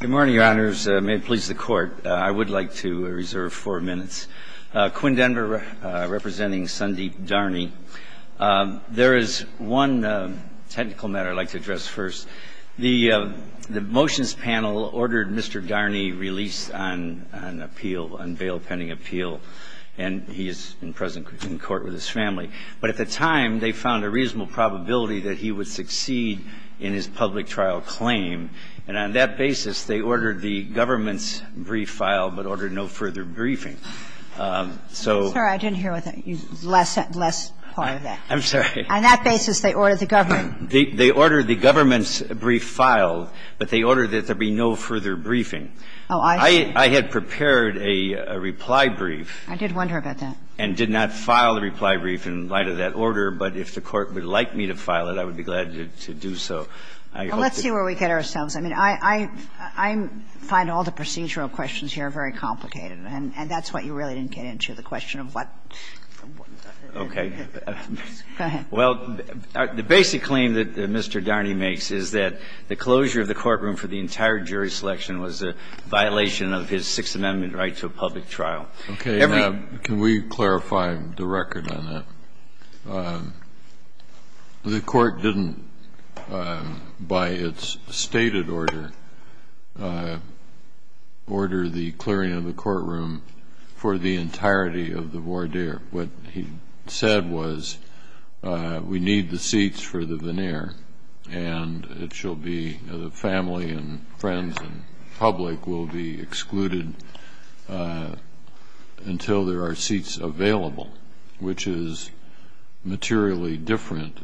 Good morning, your honors. May it please the court, I would like to reserve four minutes. Quinn Denver representing Sundeep Dharni. There is one technical matter I'd like to address first. The motions panel ordered Mr. Dharni released on an appeal, on bail pending appeal, and he is present in court with his family. But at the time they found a reasonable probability that he would succeed in his public trial claim. And on that basis, they ordered the government's brief filed, but ordered no further briefing. So ---- I'm sorry, I didn't hear what the last part of that was. I'm sorry. On that basis, they ordered the government. They ordered the government's brief filed, but they ordered that there be no further briefing. Oh, I see. I had prepared a reply brief. I did wonder about that. And did not file the reply brief in light of that order. But if the Court would like me to file it, I would be glad to do so. Well, let's see where we get ourselves. I mean, I find all the procedural questions here very complicated. And that's what you really didn't get into, the question of what ---- Okay. Go ahead. Well, the basic claim that Mr. Dharni makes is that the closure of the courtroom for the entire jury selection was a violation of his Sixth Amendment right to a public trial. Okay. Can we clarify the record on that? The Court didn't, by its stated order, order the clearing of the courtroom for the entirety of the voir dire. What he said was we need the seats for the veneer, and it shall be the family and materially different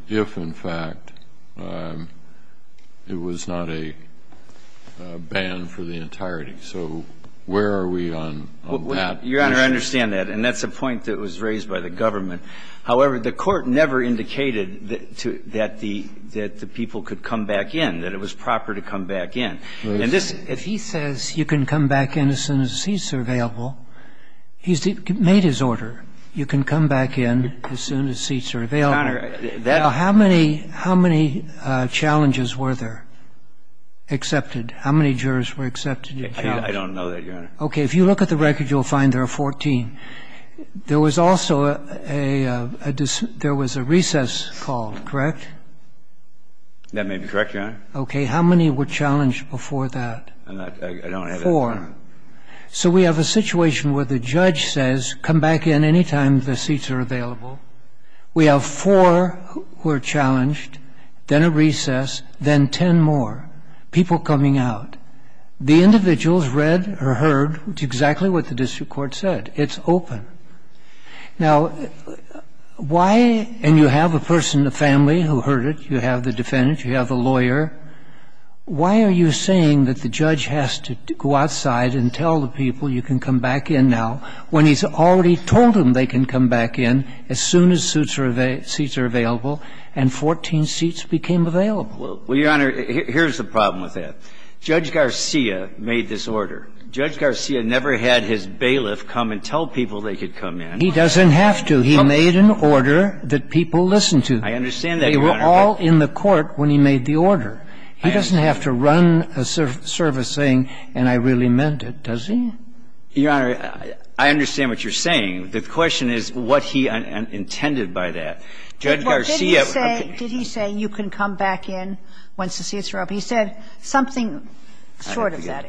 if, in fact, it was not a ban for the entirety. So where are we on that? Your Honor, I understand that. And that's a point that was raised by the government. However, the Court never indicated that the people could come back in, that it was proper to come back in. And if he says you can come back in as soon as the seats are available, he's made his order. You can come back in as soon as seats are available. Your Honor, that's the point. Now, how many challenges were there accepted? How many jurors were accepted? I don't know that, Your Honor. Okay. If you look at the record, you'll find there are 14. There was also a recess called, correct? That may be correct, Your Honor. Okay. How many were challenged before that? I don't have that number. Four. So we have a situation where the judge says, come back in any time the seats are available. We have four who are challenged, then a recess, then 10 more, people coming out. The individuals read or heard exactly what the district court said. It's open. Now, why? And you have a person, a family, who heard it. You have the defendant. You have the lawyer. Why are you saying that the judge has to go outside and tell the people you can come back in now when he's already told them they can come back in as soon as seats are available and 14 seats became available? Well, Your Honor, here's the problem with that. Judge Garcia made this order. Judge Garcia never had his bailiff come and tell people they could come in. He doesn't have to. He made an order that people listened to. I understand that, Your Honor. They were all in the court when he made the order. He doesn't have to run a service saying, and I really meant it, does he? Your Honor, I understand what you're saying. The question is what he intended by that. Judge Garcia... Did he say you can come back in once the seats are up? He said something short of that.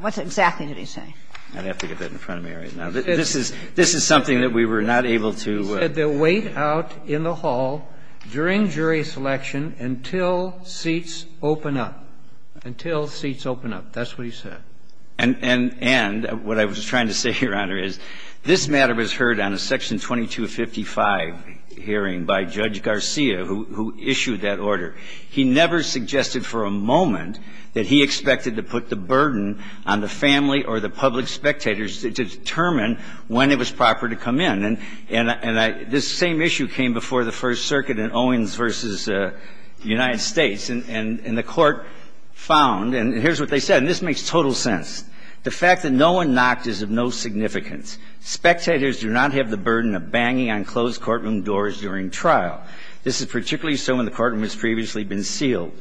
What exactly did he say? I'd have to get that in front of me right now. This is something that we were not able to... He said they'll wait out in the hall during jury selection until seats open up, until seats open up. That's what he said. And what I was trying to say, Your Honor, is this matter was heard on a Section 2255 hearing by Judge Garcia, who issued that order. He never suggested for a moment that he expected to put the burden on the family or the public spectators to determine when it was proper to come in. And this same issue came before the First Circuit in Owens v. United States. And the court found, and here's what they said, and this makes total sense. The fact that no one knocked is of no significance. Spectators do not have the burden of banging on closed courtroom doors during trial. This is particularly so when the courtroom has previously been sealed.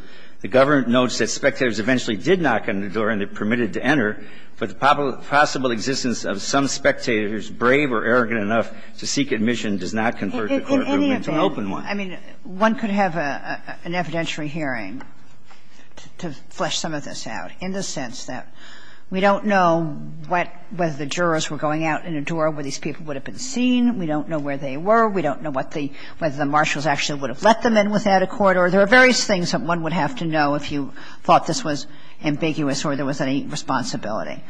The government notes that spectators eventually did knock on the door and they're permitted to enter, but the possible existence of some spectators, brave or arrogant enough to seek admission, does not convert the courtroom into an open one. Kagan. I mean, one could have an evidentiary hearing to flesh some of this out, in the sense that we don't know what the jurors were going out in a door where these people would have been seen. We don't know where they were. We don't know what the – whether the marshals actually would have let them in without a court, or there are various things that one would have to know if you thought this was ambiguous or there was any responsibility.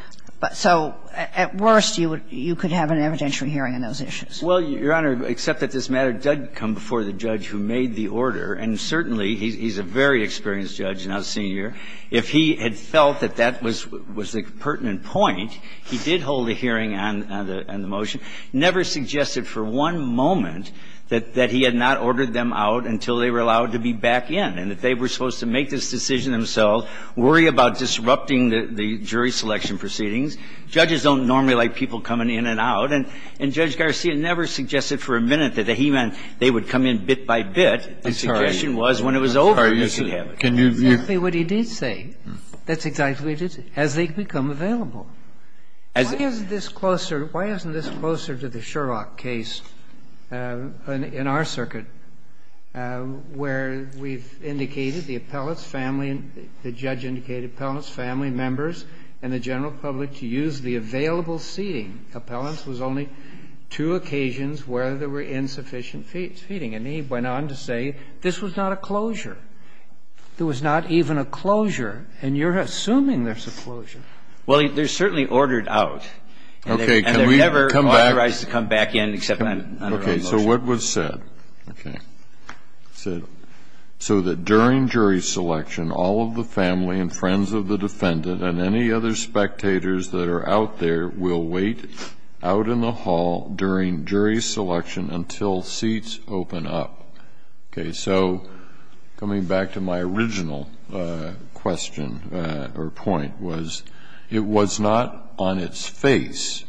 So at worst, you would – you could have an evidentiary hearing on those issues. Well, Your Honor, except that this matter did come before the judge who made the order. And certainly, he's a very experienced judge, not a senior. If he had felt that that was the pertinent point, he did hold a hearing on the motion, never suggested for one moment that he had not ordered them out until they were allowed to be back in. And if they were supposed to make this decision themselves, worry about disrupting the jury selection proceedings. Judges don't normally like people coming in and out, and Judge Garcia never suggested for a minute that he meant they would come in bit by bit. I'm sorry. The suggestion was when it was over, you could have it. Exactly what he did say. That's exactly what he did say, as they become available. Why isn't this closer – why isn't this closer to the Sherlock case in our circuit, where we've indicated the appellate's family, the judge indicated appellate's family members and the general public to use the available seating. Appellant's was only two occasions where there were insufficient seating. And he went on to say this was not a closure. There was not even a closure, and you're assuming there's a closure. Well, they're certainly ordered out. Okay. Can we come back? And they're never authorized to come back in except on their own motion. So what was said? Okay. It said, So that during jury selection, all of the family and friends of the defendant and any other spectators that are out there will wait out in the hall during jury selection until seats open up. Okay. So coming back to my original question or point was, it was not on its face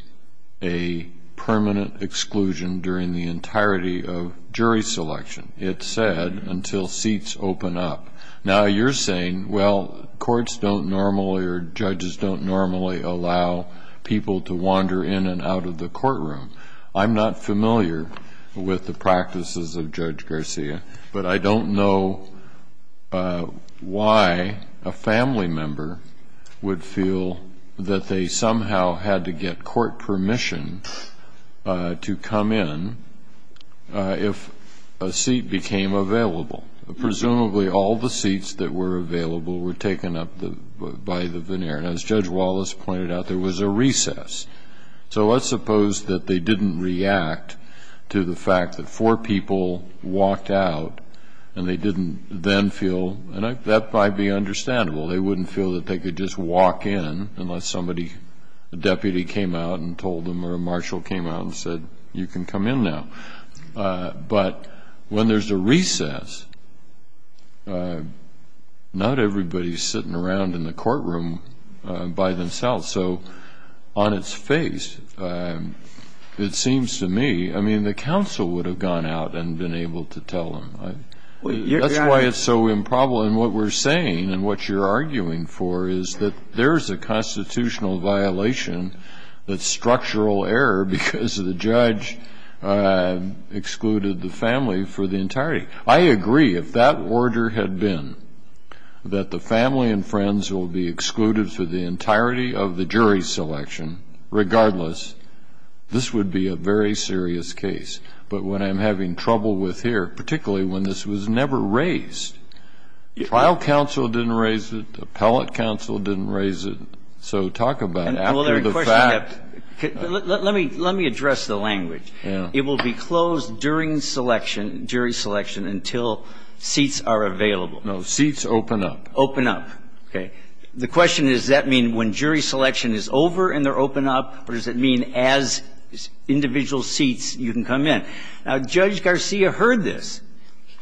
a permanent exclusion during the entirety of jury selection. It said until seats open up. Now you're saying, well, courts don't normally or judges don't normally allow people to wander in and out of the courtroom. I'm not familiar with the practices of Judge Garcia, but I don't know why a family member would feel that they somehow had to get court permission to come in if a seat became available. Presumably all the seats that were available were taken up by the veneer. And as Judge Wallace pointed out, there was a recess. So let's suppose that they didn't react to the fact that four people walked out and they didn't then feel, and that might be understandable, they wouldn't feel that they could just walk in unless somebody, a deputy came out and told them or a marshal came out and said, you can come in now. But when there's a recess, not everybody is sitting around in the courtroom by themselves. So on its face, it seems to me, I mean, the counsel would have gone out and been able to tell them. That's why it's so improbable. And what we're saying and what you're arguing for is that there is a constitutional violation that's structural error because the judge excluded the family for the entirety. I agree. If that order had been that the family and friends will be excluded for the entirety of the jury selection, regardless, this would be a very serious case. But what I'm having trouble with here, particularly when this was never raised, trial counsel didn't raise it, appellate counsel didn't raise it. So talk about after the fact. Let me address the language. Yeah. The question is, does that mean that the jury selection is over and they're open up and they're able to be closed during selection, jury selection, until seats are available? No. Seats open up. Open up. Okay. The question is, does that mean when jury selection is over and they're open up, or does it mean as individual seats you can come in? Now, Judge Garcia heard this.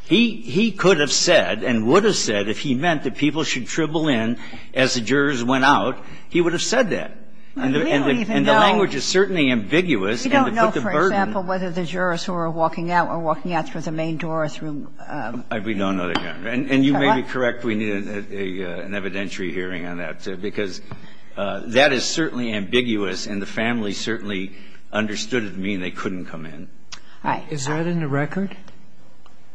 He could have said and would have said if he meant that people should dribble in as the jurors went out, he would have said that. We don't even know. And the language is certainly ambiguous. We don't know, for example, whether the jurors who are walking out are walking out through the main door or through the front door. We don't know that, Your Honor. And you may be correct. We need an evidentiary hearing on that, because that is certainly ambiguous and the family certainly understood it to mean they couldn't come in. Is that in the record?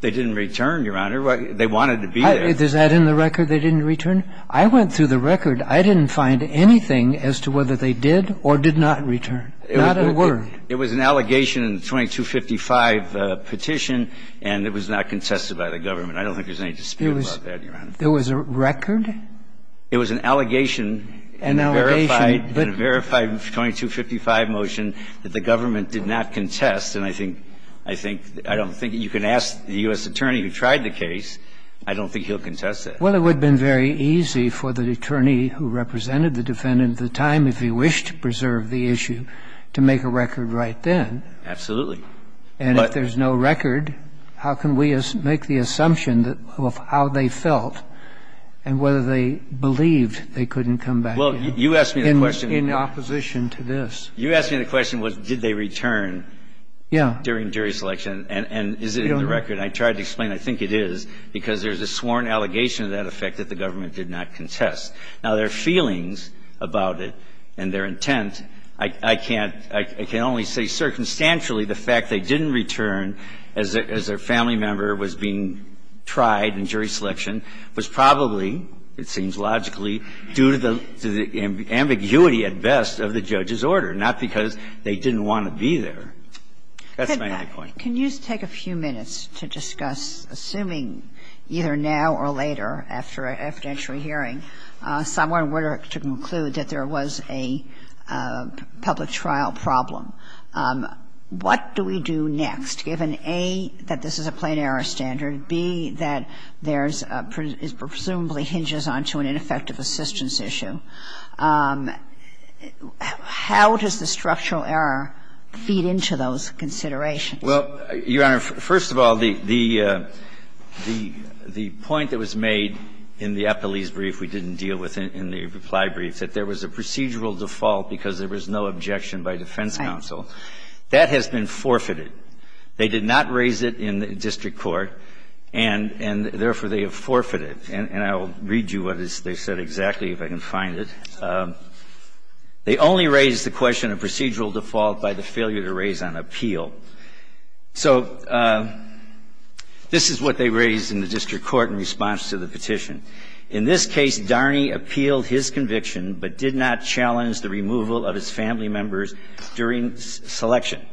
They didn't return, Your Honor. They wanted to be there. Is that in the record, they didn't return? I went through the record. I didn't find anything as to whether they did or did not return, not a word. It was an allegation in the 2255 petition, and it was not contested by the government. I don't think there's any dispute about that, Your Honor. There was a record? It was an allegation. An allegation. And a verified 2255 motion that the government did not contest. And I think you can ask the U.S. attorney who tried the case. I don't think he'll contest it. Well, it would have been very easy for the attorney who represented the defendant at the time, if he wished to preserve the issue, to make a record right then. Absolutely. And if there's no record, how can we make the assumption of how they felt and whether they believed they couldn't come back in? Well, you asked me the question. In opposition to this. You asked me the question, did they return? Yeah. During jury selection. And is it in the record? I tried to explain. I think it is, because there's a sworn allegation of that effect that the government did not contest. Now, their feelings about it and their intent, I can't, I can only say circumstantially the fact they didn't return as their family member was being tried in jury selection was probably, it seems logically, due to the ambiguity at best of the judge's discretion, not because they didn't want to be there. That's my only point. Can you take a few minutes to discuss, assuming either now or later, after an evidentiary hearing, someone were to conclude that there was a public trial problem, what do we do next, given, A, that this is a plain error standard, B, that there's presumably an ineffective assistance issue? How does the structural error feed into those considerations? Well, Your Honor, first of all, the point that was made in the epilese brief we didn't deal with in the reply brief, that there was a procedural default because there was no objection by defense counsel, that has been forfeited. They did not raise it in district court, and therefore they have forfeited. And I will read you what they said exactly, if I can find it. They only raised the question of procedural default by the failure to raise on appeal. So this is what they raised in the district court in response to the petition. In this case, Darney appealed his conviction but did not challenge the removal of his family members during selection.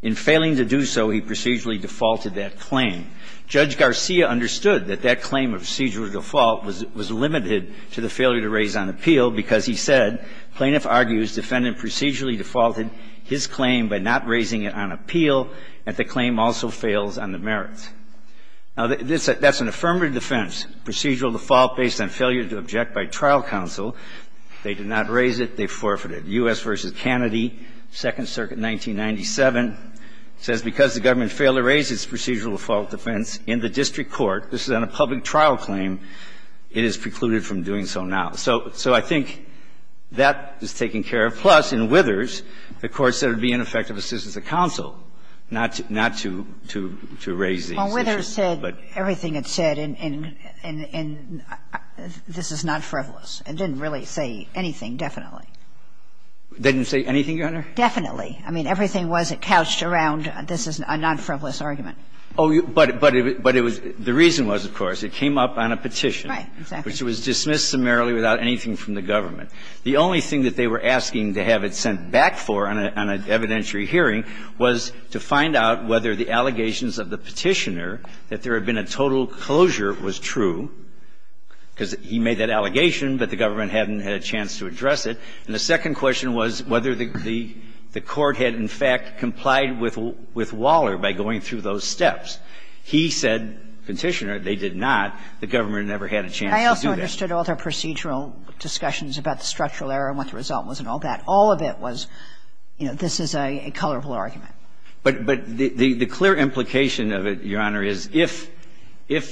In failing to do so, he procedurally defaulted that claim. Judge Garcia understood that that claim of procedural default was limited to the failure to raise on appeal because he said, plaintiff argues defendant procedurally defaulted his claim by not raising it on appeal, and the claim also fails on the merits. Now, that's an affirmative defense, procedural default based on failure to object by trial counsel. They did not raise it. They forfeited. U.S. v. Kennedy, Second Circuit, 1997, says because the government failed to raise its procedural default defense in the district court, this is on a public trial claim, it is precluded from doing so now. So I think that is taken care of, plus in Withers, the Court said it would be ineffective assistance to counsel, not to raise these issues. But the Court said it would be ineffective assistance to counsel, not to raise these issues. It's a traditional Supreme Court judgement. It didn't say anything, Your Honor. No, definitely. Didn't say anything, Your Honor? Definitely. I mean, everything wasn't couched around this is not a frivolous argument. Oh, you but it but it was. The reason was, of course, it came up on a petition. Right. Exactly. Which was dismissed summarily without anything from the government. The only thing that they were asking to have it sent back for on an evidentiary hearing was to find out whether the allegations of the petitioner, that there had been a total closure, was true, because he made that allegation, but the government hadn't had a chance to address it. And the second question was whether the Court had, in fact, complied with Waller by going through those steps. He said, Petitioner, they did not. The government never had a chance to do that. I also understood all their procedural discussions about the structural error and what the result was and all that. All of it was, you know, this is a colorful argument. But the clear implication of it, Your Honor, is if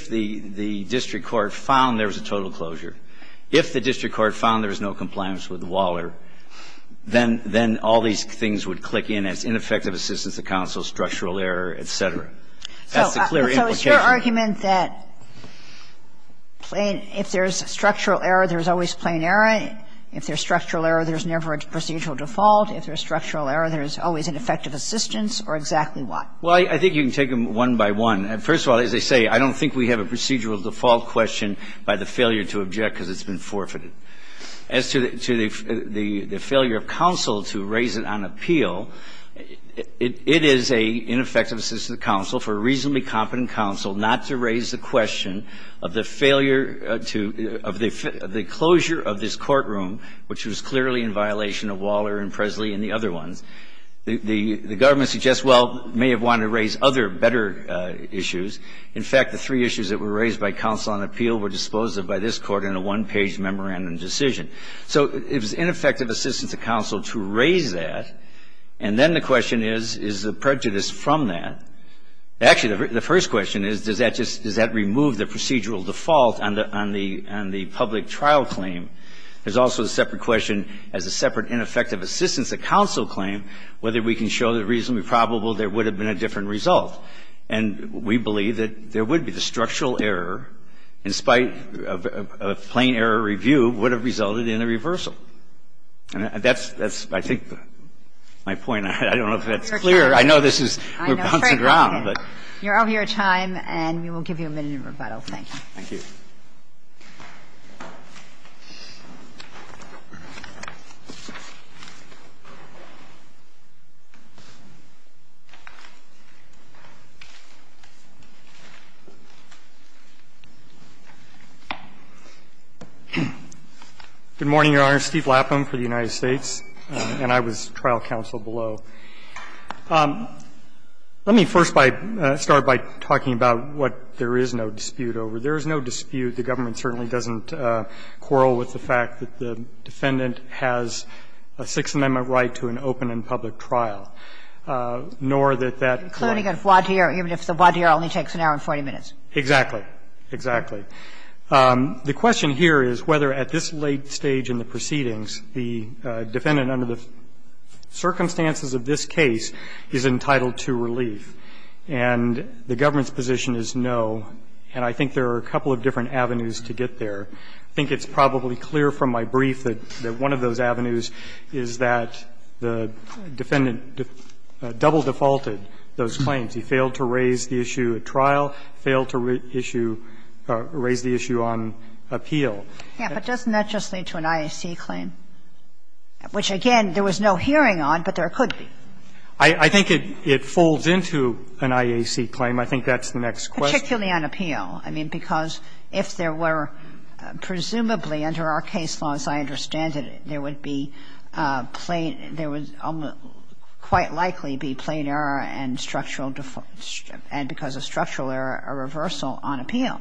the district court found there was a total closure, if the district court found there was no compliance with Waller, then all these things would click in as ineffective assistance to counsel, structural error, et cetera. That's the clear implication. So is your argument that if there's structural error, there's always plain error? If there's structural error, there's never a procedural default? If there's structural error, there's always ineffective assistance? Or exactly what? Well, I think you can take them one by one. First of all, as I say, I don't think we have a procedural default question by the failure to object because it's been forfeited. As to the failure of counsel to raise it on appeal, it is an ineffective assistance to counsel for a reasonably competent counsel not to raise the question of the failure to of the closure of this courtroom, which was clearly in violation of Waller and Presley and the other ones. The government suggests, well, may have wanted to raise other better issues. In fact, the three issues that were raised by counsel on appeal were disposed of by this court in a one-page memorandum decision. So it was ineffective assistance to counsel to raise that. And then the question is, is the prejudice from that? Actually, the first question is, does that just remove the procedural default on the public trial claim? There's also a separate question as a separate ineffective assistance to counsel claim, whether we can show the reasonably probable there would have been a different result. And we believe that there would be the structural error, in spite of a plain error review, would have resulted in a reversal. And that's, I think, my point. I don't know if that's clear. I know this is bouncing around, but you're over your time, and we will give you a minute of rebuttal. Thank you. Thank you. Good morning, Your Honor. Steve Lapham for the United States, and I was trial counsel below. Let me first by start by talking about what there is no dispute over. There is no dispute. The government certainly doesn't quarrel with the fact that the defendant has a Sixth Amendment right to an open and public trial, nor that that claim. Including a voir dire, even if the voir dire only takes an hour and 40 minutes. Exactly. Exactly. The question here is whether at this late stage in the proceedings, the defendant under the circumstances of this case is entitled to relief. And the government's position is no. And I think there are a couple of different avenues to get there. I think it's probably clear from my brief that one of those avenues is that the defendant double defaulted those claims. He failed to raise the issue at trial, failed to issue or raise the issue on appeal. Yes, but doesn't that just lead to an IAC claim? Which, again, there was no hearing on, but there could be. I think it folds into an IAC claim. I think that's the next question. But particularly on appeal, I mean, because if there were, presumably under our case laws, I understand that there would be plain – there would quite likely be plain error and structural – and because of structural error, a reversal on appeal,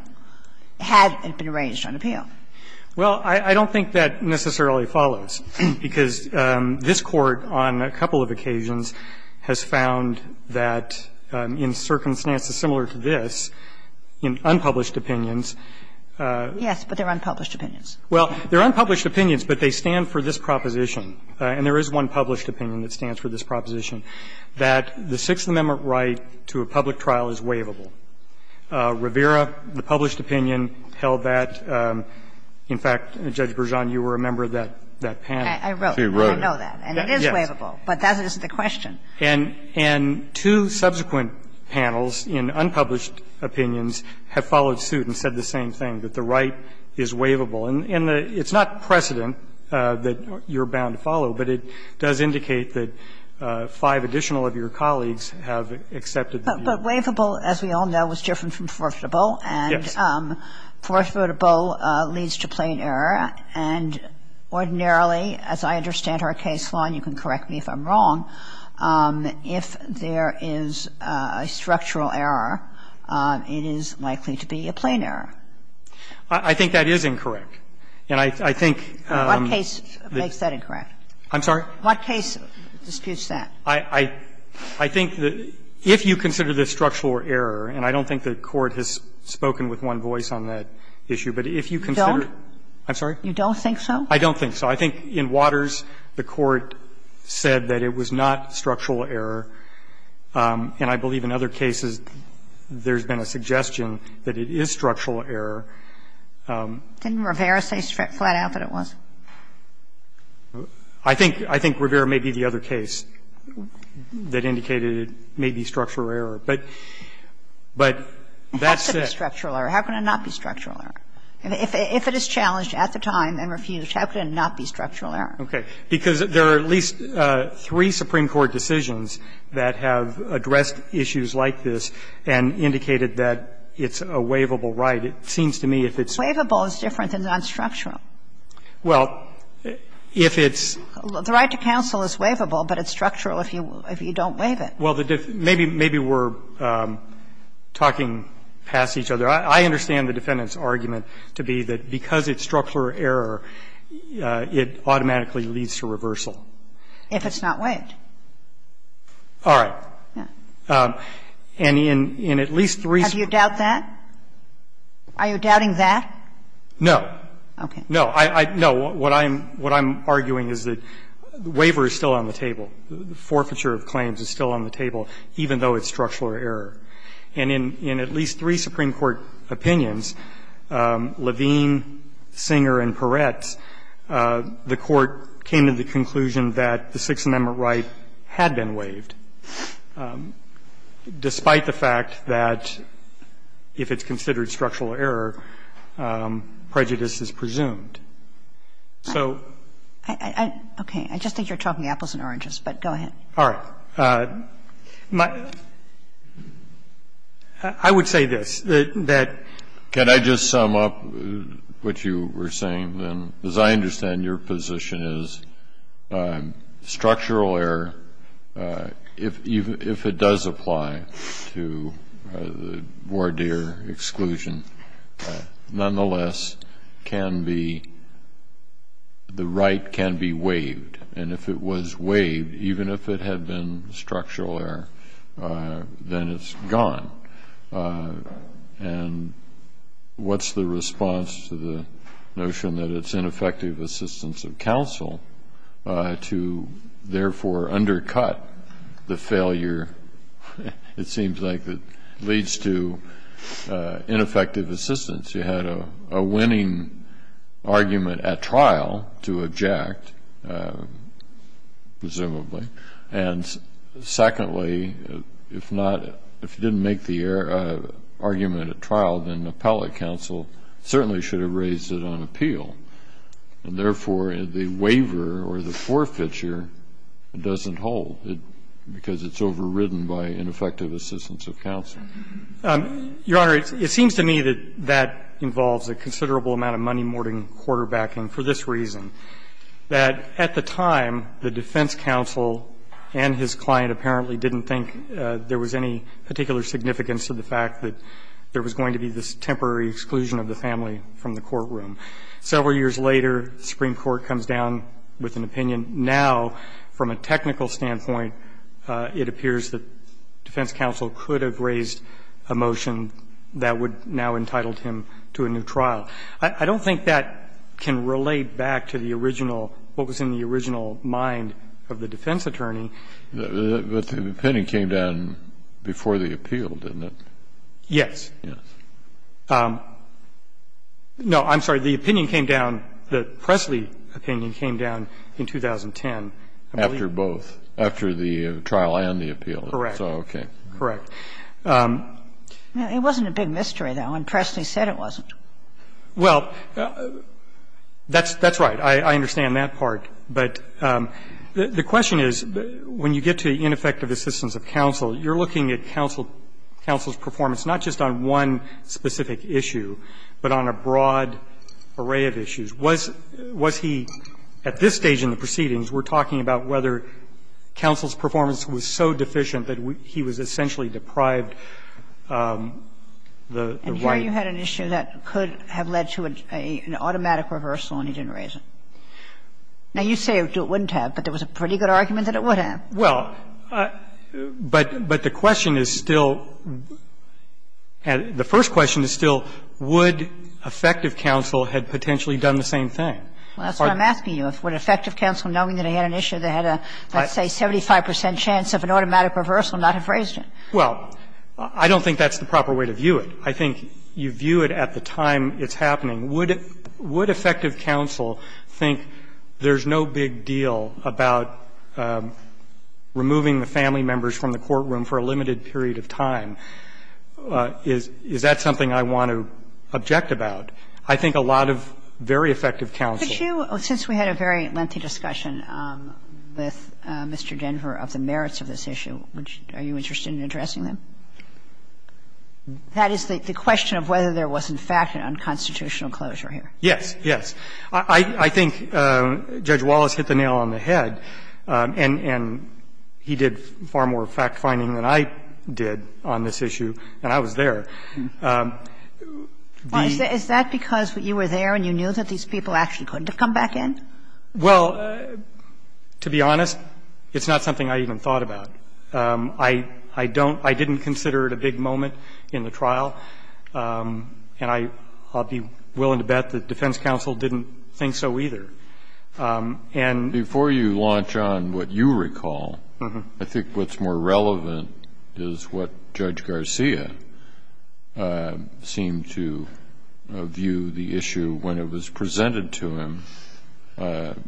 had it been raised on appeal. Well, I don't think that necessarily follows, because this Court on a couple of occasions has found that in circumstances similar to this, in unpublished opinions – Yes, but they're unpublished opinions. Well, they're unpublished opinions, but they stand for this proposition. And there is one published opinion that stands for this proposition, that the Sixth Amendment right to a public trial is waivable. Rivera, the published opinion, held that. In fact, Judge Bergeon, you were a member of that panel. I wrote it. She wrote it. I know that. And it is waivable. Yes. But that is the question. And two subsequent panels in unpublished opinions have followed suit and said the same thing, that the right is waivable. And it's not precedent that you're bound to follow, but it does indicate that five additional of your colleagues have accepted the view. But waivable, as we all know, is different from forfeitable. And forfeitable leads to plain error. And ordinarily, as I understand our case, Lon, you can correct me if I'm wrong, if there is a structural error, it is likely to be a plain error. I think that is incorrect. And I think the case makes that incorrect. I'm sorry? What case disputes that? I think that if you consider the structural error, and I don't think the Court has spoken with one voice on that issue, but if you consider it. I'm sorry? You don't think so? I don't think so. I think in Waters, the Court said that it was not structural error. And I believe in other cases there's been a suggestion that it is structural error. Didn't Rivera say flat out that it was? I think Rivera may be the other case that indicated it may be structural error. But that's it. It has to be structural error. How can it not be structural error? If it is challenged at the time and refused, how can it not be structural error? Okay. Because there are at least three Supreme Court decisions that have addressed issues like this and indicated that it's a waivable right. It seems to me if it's waivable, it's different than nonstructural. Well, if it's the right to counsel is waivable, but it's structural if you don't waive it. Well, maybe we're talking past each other. I understand the defendant's argument to be that because it's structural error, it automatically leads to reversal. If it's not waived. All right. And in at least three of the cases that I've argued, the waiver is still on the table. The forfeiture of claims is still on the table, even though it's structural error. And in at least three Supreme Court opinions, Levine, Singer, and Peretz, the Court came to the conclusion that the Sixth Amendment right had been waived, despite the fact that if it's considered structural error, prejudice is presumed. So go ahead. Okay. I just think you're talking apples and oranges, but go ahead. All right. I would say this, that can I just sum up what you were saying, then, as I understand your position is structural error, if it does apply to the voir dire exclusion, nonetheless, the right can be waived. And if it was waived, even if it had been structural error, then it's gone. And what's the response to the notion that it's ineffective assistance of counsel to therefore undercut the failure, it seems like, that leads to an ineffective assistance. You had a winning argument at trial to object, presumably, and secondly, if not If you didn't make the argument at trial, then the appellate counsel certainly should have raised it on appeal. And therefore, the waiver or the forfeiture doesn't hold, because it's overridden by ineffective assistance of counsel. Your Honor, it seems to me that that involves a considerable amount of money-morting quarterbacking for this reason, that at the time, the defense counsel and his client apparently didn't think there was any particular significance to the fact that there was going to be this temporary exclusion of the family from the courtroom. Several years later, the Supreme Court comes down with an opinion. Now, from a technical standpoint, it appears that defense counsel could have raised a motion that would now have entitled him to a new trial. I don't think that can relate back to the original, what was in the original mind of the defense attorney. Kennedy, but the opinion came down before the appeal, didn't it? Yes. No, I'm sorry. The opinion came down, the Presley opinion came down in 2010, I believe. After both, after the trial and the appeal. Correct. Okay. Correct. It wasn't a big mystery, though, and Presley said it wasn't. Well, that's right. I understand that part. But the question is, when you get to ineffective assistance of counsel, you're looking at counsel's performance not just on one specific issue, but on a broad array of issues. Was he, at this stage in the proceedings, we're talking about whether counsel's performance was so deficient that he was essentially deprived the right? And here you had an issue that could have led to an automatic reversal and he didn't raise it. Now, you say it wouldn't have, but there was a pretty good argument that it would have. Well, but the question is still, the first question is still, would effective counsel have potentially done the same thing? Well, that's what I'm asking you. Would effective counsel, knowing that he had an issue that had a, let's say, 75 percent chance of an automatic reversal, not have raised it? Well, I don't think that's the proper way to view it. I think you view it at the time it's happening. Would effective counsel think there's no big deal about removing the family members from the courtroom for a limited period of time? Is that something I want to object about? I think a lot of very effective counsel. Could you, since we had a very lengthy discussion with Mr. Denver of the merits of this issue, are you interested in addressing them? That is the question of whether there was, in fact, an unconstitutional closure here. Yes. Yes. I think Judge Wallace hit the nail on the head, and he did far more fact-finding than I did on this issue when I was there. Is that because you were there and you knew that these people actually couldn't have come back in? Well, to be honest, it's not something I even thought about. I don't – I didn't consider it a big moment in the trial, and I'll be willing to bet that defense counsel didn't think so either. I think what's more relevant is what Judge Garcia seemed to view the issue when it was presented to him,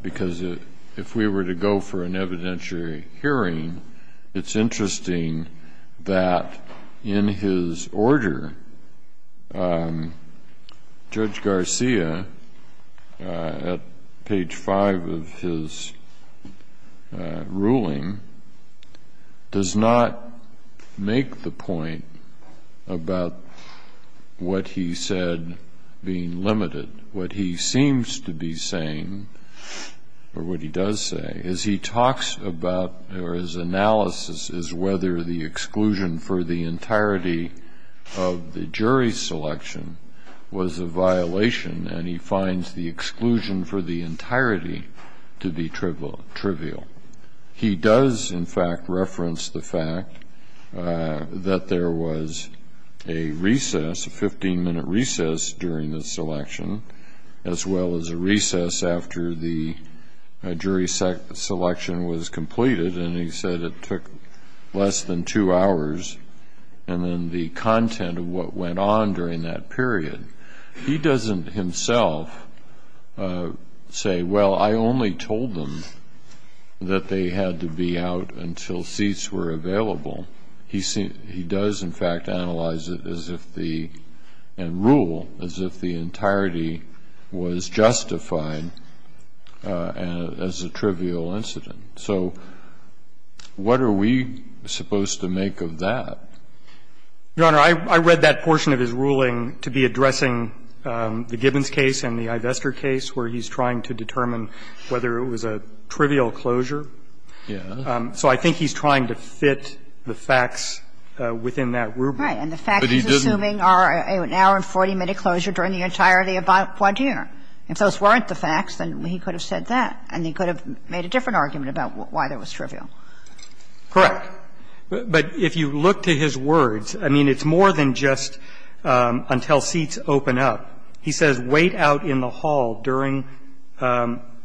because if we were to go for an evidentiary hearing, it's does not make the point about what he said being limited. What he seems to be saying, or what he does say, is he talks about – or his analysis is whether the exclusion for the entirety of the jury selection was a violation, and he finds the exclusion for the entirety to be trivial. He does, in fact, reference the fact that there was a recess, a 15-minute recess during the selection, as well as a recess after the jury selection was completed, and he said it took less than two hours, and then the content of what went on during that period. He doesn't himself say, well, I only told them that they had to be out until seats were available. He does, in fact, analyze it as if the – and rule as if the entirety was justified as a trivial incident. So what are we supposed to make of that? Your Honor, I read that portion of his ruling to be addressing the Gibbons case and the Ivester case, where he's trying to determine whether it was a trivial closure. So I think he's trying to fit the facts within that rubric. But he didn't. Right. And the facts he's assuming are an hour and 40-minute closure during the entirety of voir dire. If those weren't the facts, then he could have said that, and he could have made a different argument about why that was trivial. Correct. But if you look to his words, I mean, it's more than just until seats open up. He says, wait out in the hall during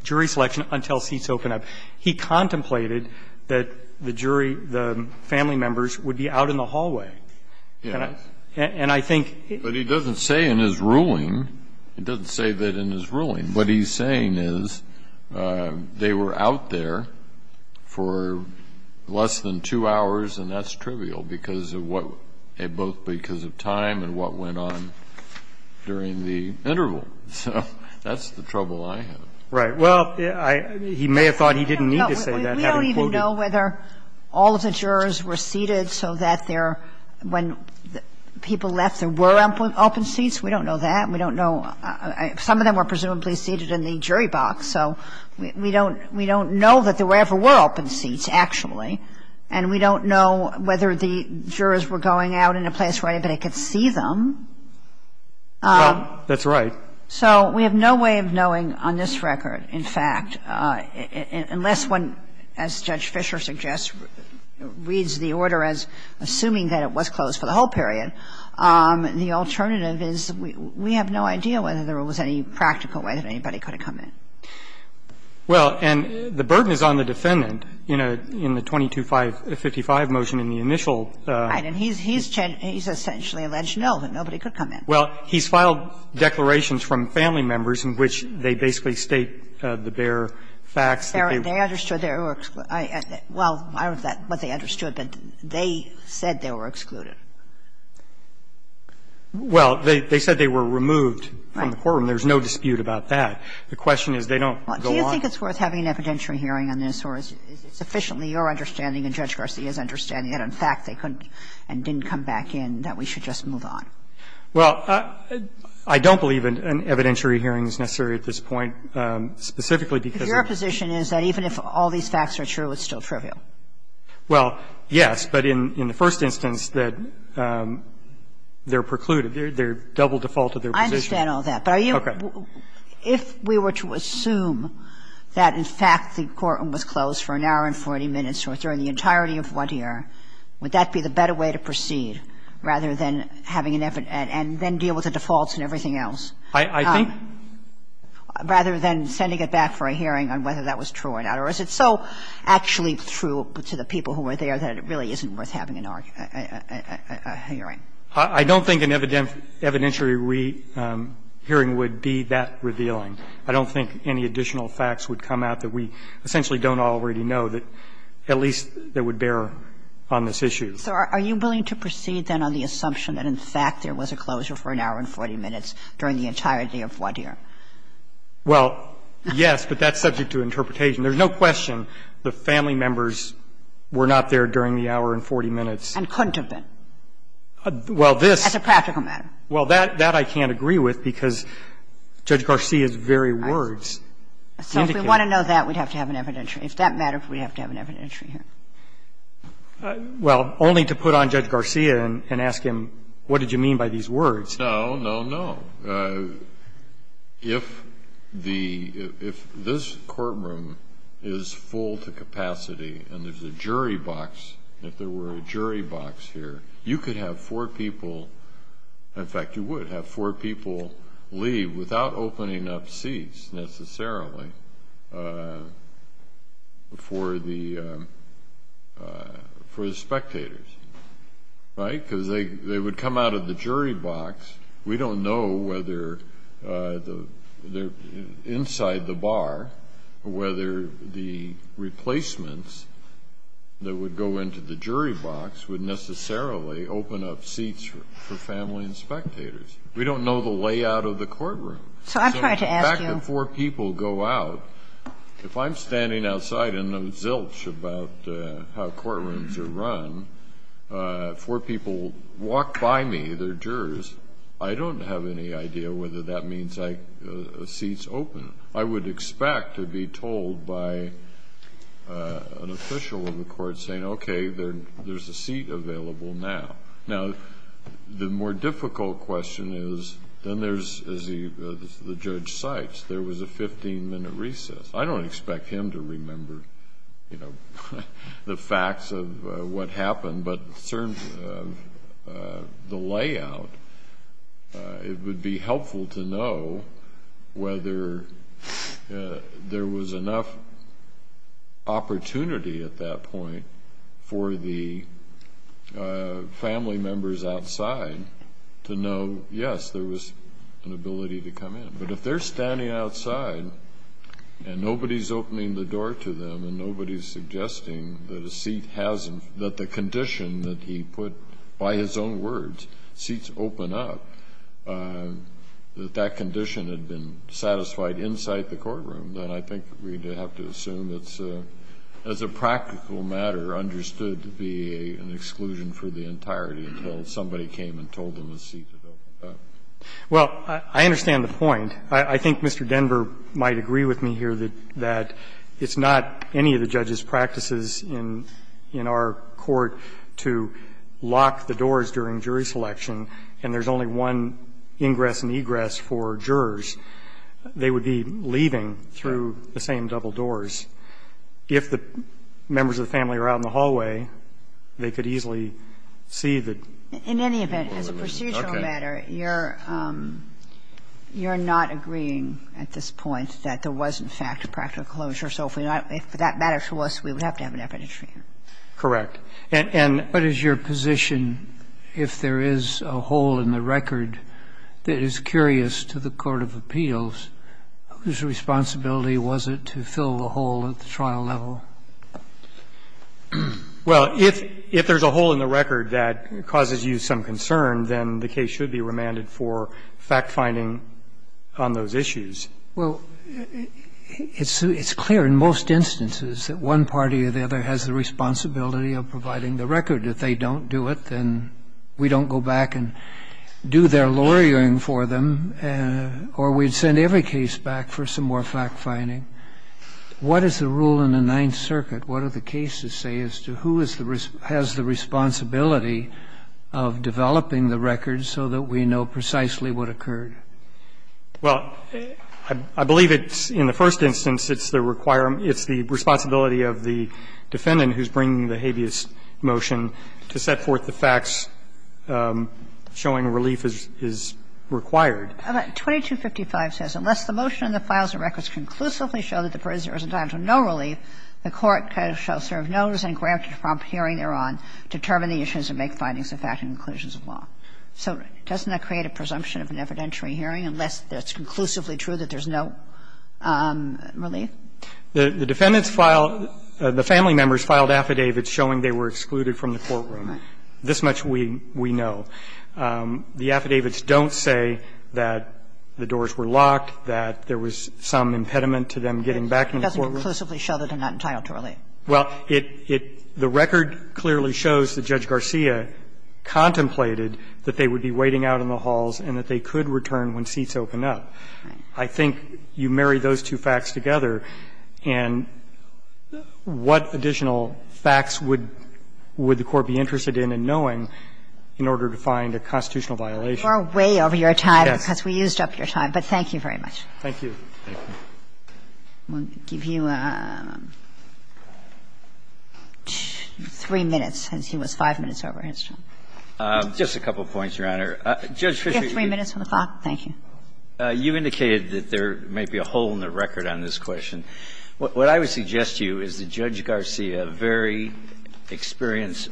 jury selection until seats open up. He contemplated that the jury, the family members, would be out in the hallway. Yes. And I think he – But he doesn't say in his ruling – he doesn't say that in his ruling. What he's saying is they were out there for less than two hours, and that's trivial because of what – both because of time and what went on during the interval. So that's the trouble I have. Right. Well, I – he may have thought he didn't need to say that, having quoted – We don't even know whether all of the jurors were seated so that there – when people left, there were open seats. We don't know that. We don't know – some of them were presumably seated in the jury box, so we don't – we don't know that there ever were open seats, actually. And we don't know whether the jurors were going out in a place where anybody could see them. That's right. So we have no way of knowing on this record, in fact, unless one, as Judge Fischer suggests, reads the order as assuming that it was closed for the whole period. And the alternative is we have no idea whether there was any practical way that anybody could have come in. Well, and the burden is on the defendant, you know, in the 2255 motion in the initial He's essentially alleged no, that nobody could come in. Well, he's filed declarations from family members in which they basically state the bare facts. They understood they were – well, I don't know if that's what they understood, but they said they were excluded. Well, they said they were removed from the courtroom. There's no dispute about that. The question is, they don't go on. Well, do you think it's worth having an evidentiary hearing on this, or is it sufficiently your understanding and Judge Garcia's understanding that, in fact, they couldn't and didn't come back in, that we should just move on? Well, I don't believe an evidentiary hearing is necessary at this point, specifically because of the position is that even if all these facts are true, it's still trivial. Well, yes, but in the first instance that they're precluded, they're double defaulted their position. I understand all that. But are you – if we were to assume that, in fact, the courtroom was closed for an hour and 40 minutes or during the entirety of one year, would that be the better way to proceed, rather than having an evidentiary and then deal with the defaults and everything else? I think – Rather than sending it back for a hearing on whether that was true or not, or is it so actually true to the people who were there that it really isn't worth having an hearing? I don't think an evidentiary hearing would be that revealing. I don't think any additional facts would come out that we essentially don't already know that at least that would bear on this issue. So are you willing to proceed, then, on the assumption that, in fact, there was a closure for an hour and 40 minutes during the entirety of one year? Well, yes, but that's subject to interpretation. There's no question the family members were not there during the hour and 40 minutes. And couldn't have been. Well, this – As a practical matter. Well, that I can't agree with, because Judge Garcia's very words indicate it. So if we want to know that, we'd have to have an evidentiary. If that mattered, we'd have to have an evidentiary hearing. Well, only to put on Judge Garcia and ask him, what did you mean by these words? No, no, no. If the – if this courtroom is full to capacity and there's a jury box, if there were a jury box here, you could have four people – in fact, you would have four people leave without opening up seats, necessarily, for the spectators, right, because they would come out of the jury box. We don't know whether the – inside the bar, whether the replacements that would go into the jury box would necessarily open up seats for family and spectators. We don't know the layout of the courtroom. So I'm trying to ask you – So in fact, if four people go out, if I'm standing outside and I'm zilch about how they're jurors, I don't have any idea whether that means a seat's open. I would expect to be told by an official of the court saying, okay, there's a seat available now. Now, the more difficult question is, then there's – as the judge cites, there was a 15-minute recess. I don't expect him to remember the facts of what happened, but the layout, it would be helpful to know whether there was enough opportunity at that point for the family members outside to know, yes, there was an ability to come in. But if they're standing outside and nobody's opening the door to them and nobody's suggesting that a seat hasn't – that the condition that he put by his own words, seats open up, that that condition had been satisfied inside the courtroom, then I think we'd have to assume it's, as a practical matter, understood to be an exclusion for the entirety until somebody came and told them a seat had opened up. Well, I understand the point. I think Mr. Denver might agree with me here that it's not any of the judge's practices in our court to lock the doors during jury selection and there's only one ingress and egress for jurors. They would be leaving through the same double doors. If the members of the family are out in the hallway, they could easily see that them a seat had opened up. In any event, as a procedural matter, you're not agreeing at this point that there was, in fact, a practical closure. So if we're not – if that matters to us, we would have to have an evidentiary. Correct. And – and What is your position if there is a hole in the record that is curious to the court of appeals, whose responsibility was it to fill the hole at the trial level? Well, if – if there's a hole in the record that causes you some concern, then the case should be remanded for fact-finding on those issues. Well, it's – it's clear in most instances that one party or the other has the responsibility of providing the record. If they don't do it, then we don't go back and do their lawyering for them, or we'd send every case back for some more fact-finding. What is the rule in the Ninth Circuit? What do the cases say as to who is the – has the responsibility of developing the record so that we know precisely what occurred? Well, I believe it's – in the first instance, it's the requirement – it's the requirement of the previous motion to set forth the facts showing relief is – is required. But 2255 says unless the motion in the files and records conclusively show that the prisoner is entitled to no relief, the court shall serve no notice and grant a prompt hearing thereon to determine the issues and make findings of fact and conclusions of law. So doesn't that create a presumption of an evidentiary hearing unless it's conclusively true that there's no relief? The defendants filed – the family members filed affidavits showing they were excluded from the courtroom. Right. This much we – we know. The affidavits don't say that the doors were locked, that there was some impediment to them getting back in the courtroom. It doesn't conclusively show that they're not entitled to relief. Well, it – it – the record clearly shows that Judge Garcia contemplated that they would be waiting out in the halls and that they could return when seats open up. Right. I think you marry those two facts together, and what additional facts would – would the Court be interested in knowing in order to find a constitutional violation? You are way over your time, because we used up your time, but thank you very much. Thank you. Thank you. We'll give you 3 minutes, since he was 5 minutes over his time. Just a couple of points, Your Honor. One is that there may be a hole in the record on this question. What I would suggest to you is that Judge Garcia, a very experienced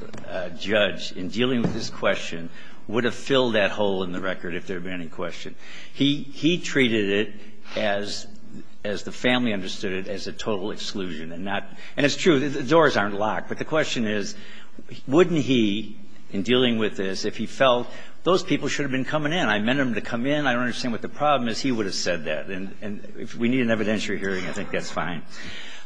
judge in dealing with this question, would have filled that hole in the record if there had been any question. He – he treated it as – as the family understood it, as a total exclusion and not – and it's true, the doors aren't locked. But the question is, wouldn't he, in dealing with this, if he felt those people should have been coming in, I meant them to come in, I don't understand what the And if we need an evidentiary hearing, I think that's fine.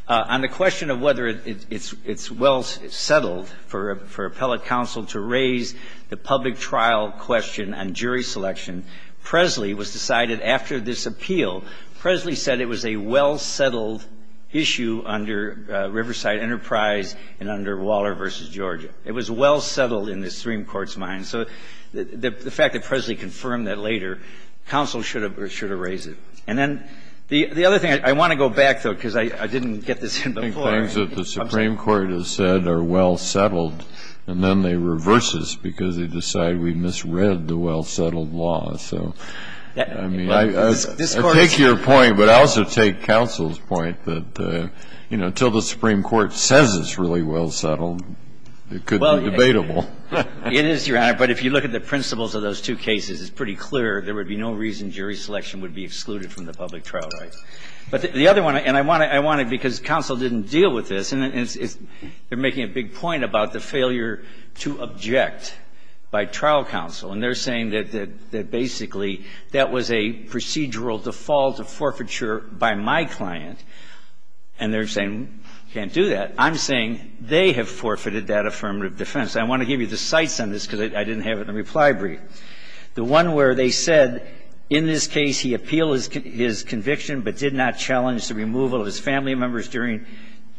On the question of whether it's – it's well settled for – for appellate counsel to raise the public trial question on jury selection, Presley was decided after this appeal, Presley said it was a well settled issue under Riverside Enterprise and under Waller v. Georgia. It was well settled in the Supreme Court's mind. So the fact that Presley confirmed that later, counsel should have – should have raised it. And then the – the other thing, I want to go back, though, because I – I didn't get this in before. I think things that the Supreme Court has said are well settled, and then they reverse this because they decide we misread the well settled law. So, I mean, I take your point, but I also take counsel's point that, you know, until the Supreme Court says it's really well settled, it could be debatable. It is, Your Honor. But if you look at the principles of those two cases, it's pretty clear there would be no reason jury selection would be excluded from the public trial rights. But the other one – and I want to – I want to – because counsel didn't deal with this, and it's – they're making a big point about the failure to object by trial counsel, and they're saying that – that basically that was a procedural default of forfeiture by my client, and they're saying we can't do that. I'm saying they have forfeited that affirmative defense. I want to give you the cites on this because I didn't have it in the reply brief. The one where they said, in this case, he appealed his conviction but did not challenge the removal of his family members during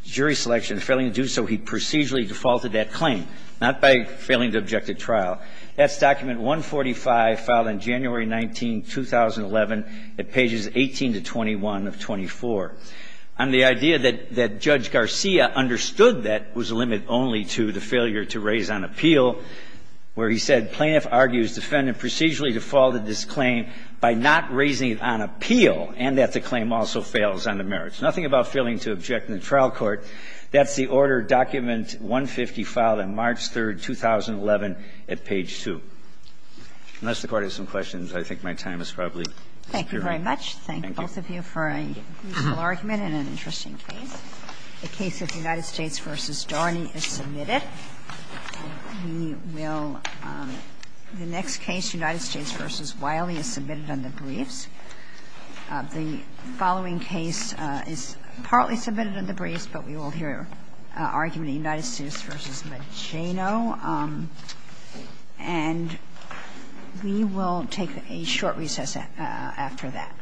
jury selection, failing to do so, he procedurally defaulted that claim, not by failing to object at trial. That's document 145, filed on January 19, 2011, at pages 18 to 21 of 24. And the idea that – that Judge Garcia understood that was a limit only to the failure to raise on appeal, where he said, plaintiff argues defendant procedurally defaulted this claim by not raising it on appeal, and that the claim also fails on the merits. Nothing about failing to object in the trial court. That's the order, document 150, filed on March 3, 2011, at page 2. Unless the Court has some questions, I think my time is probably expiring. Thank you. Thank you very much. Thank you both of you for a useful argument and an interesting case. The case of United States v. Darney is submitted. We will – the next case, United States v. Wiley, is submitted under briefs. The following case is partly submitted under briefs, but we will hear argument in United States v. Mageno. And we will take a short recess after that.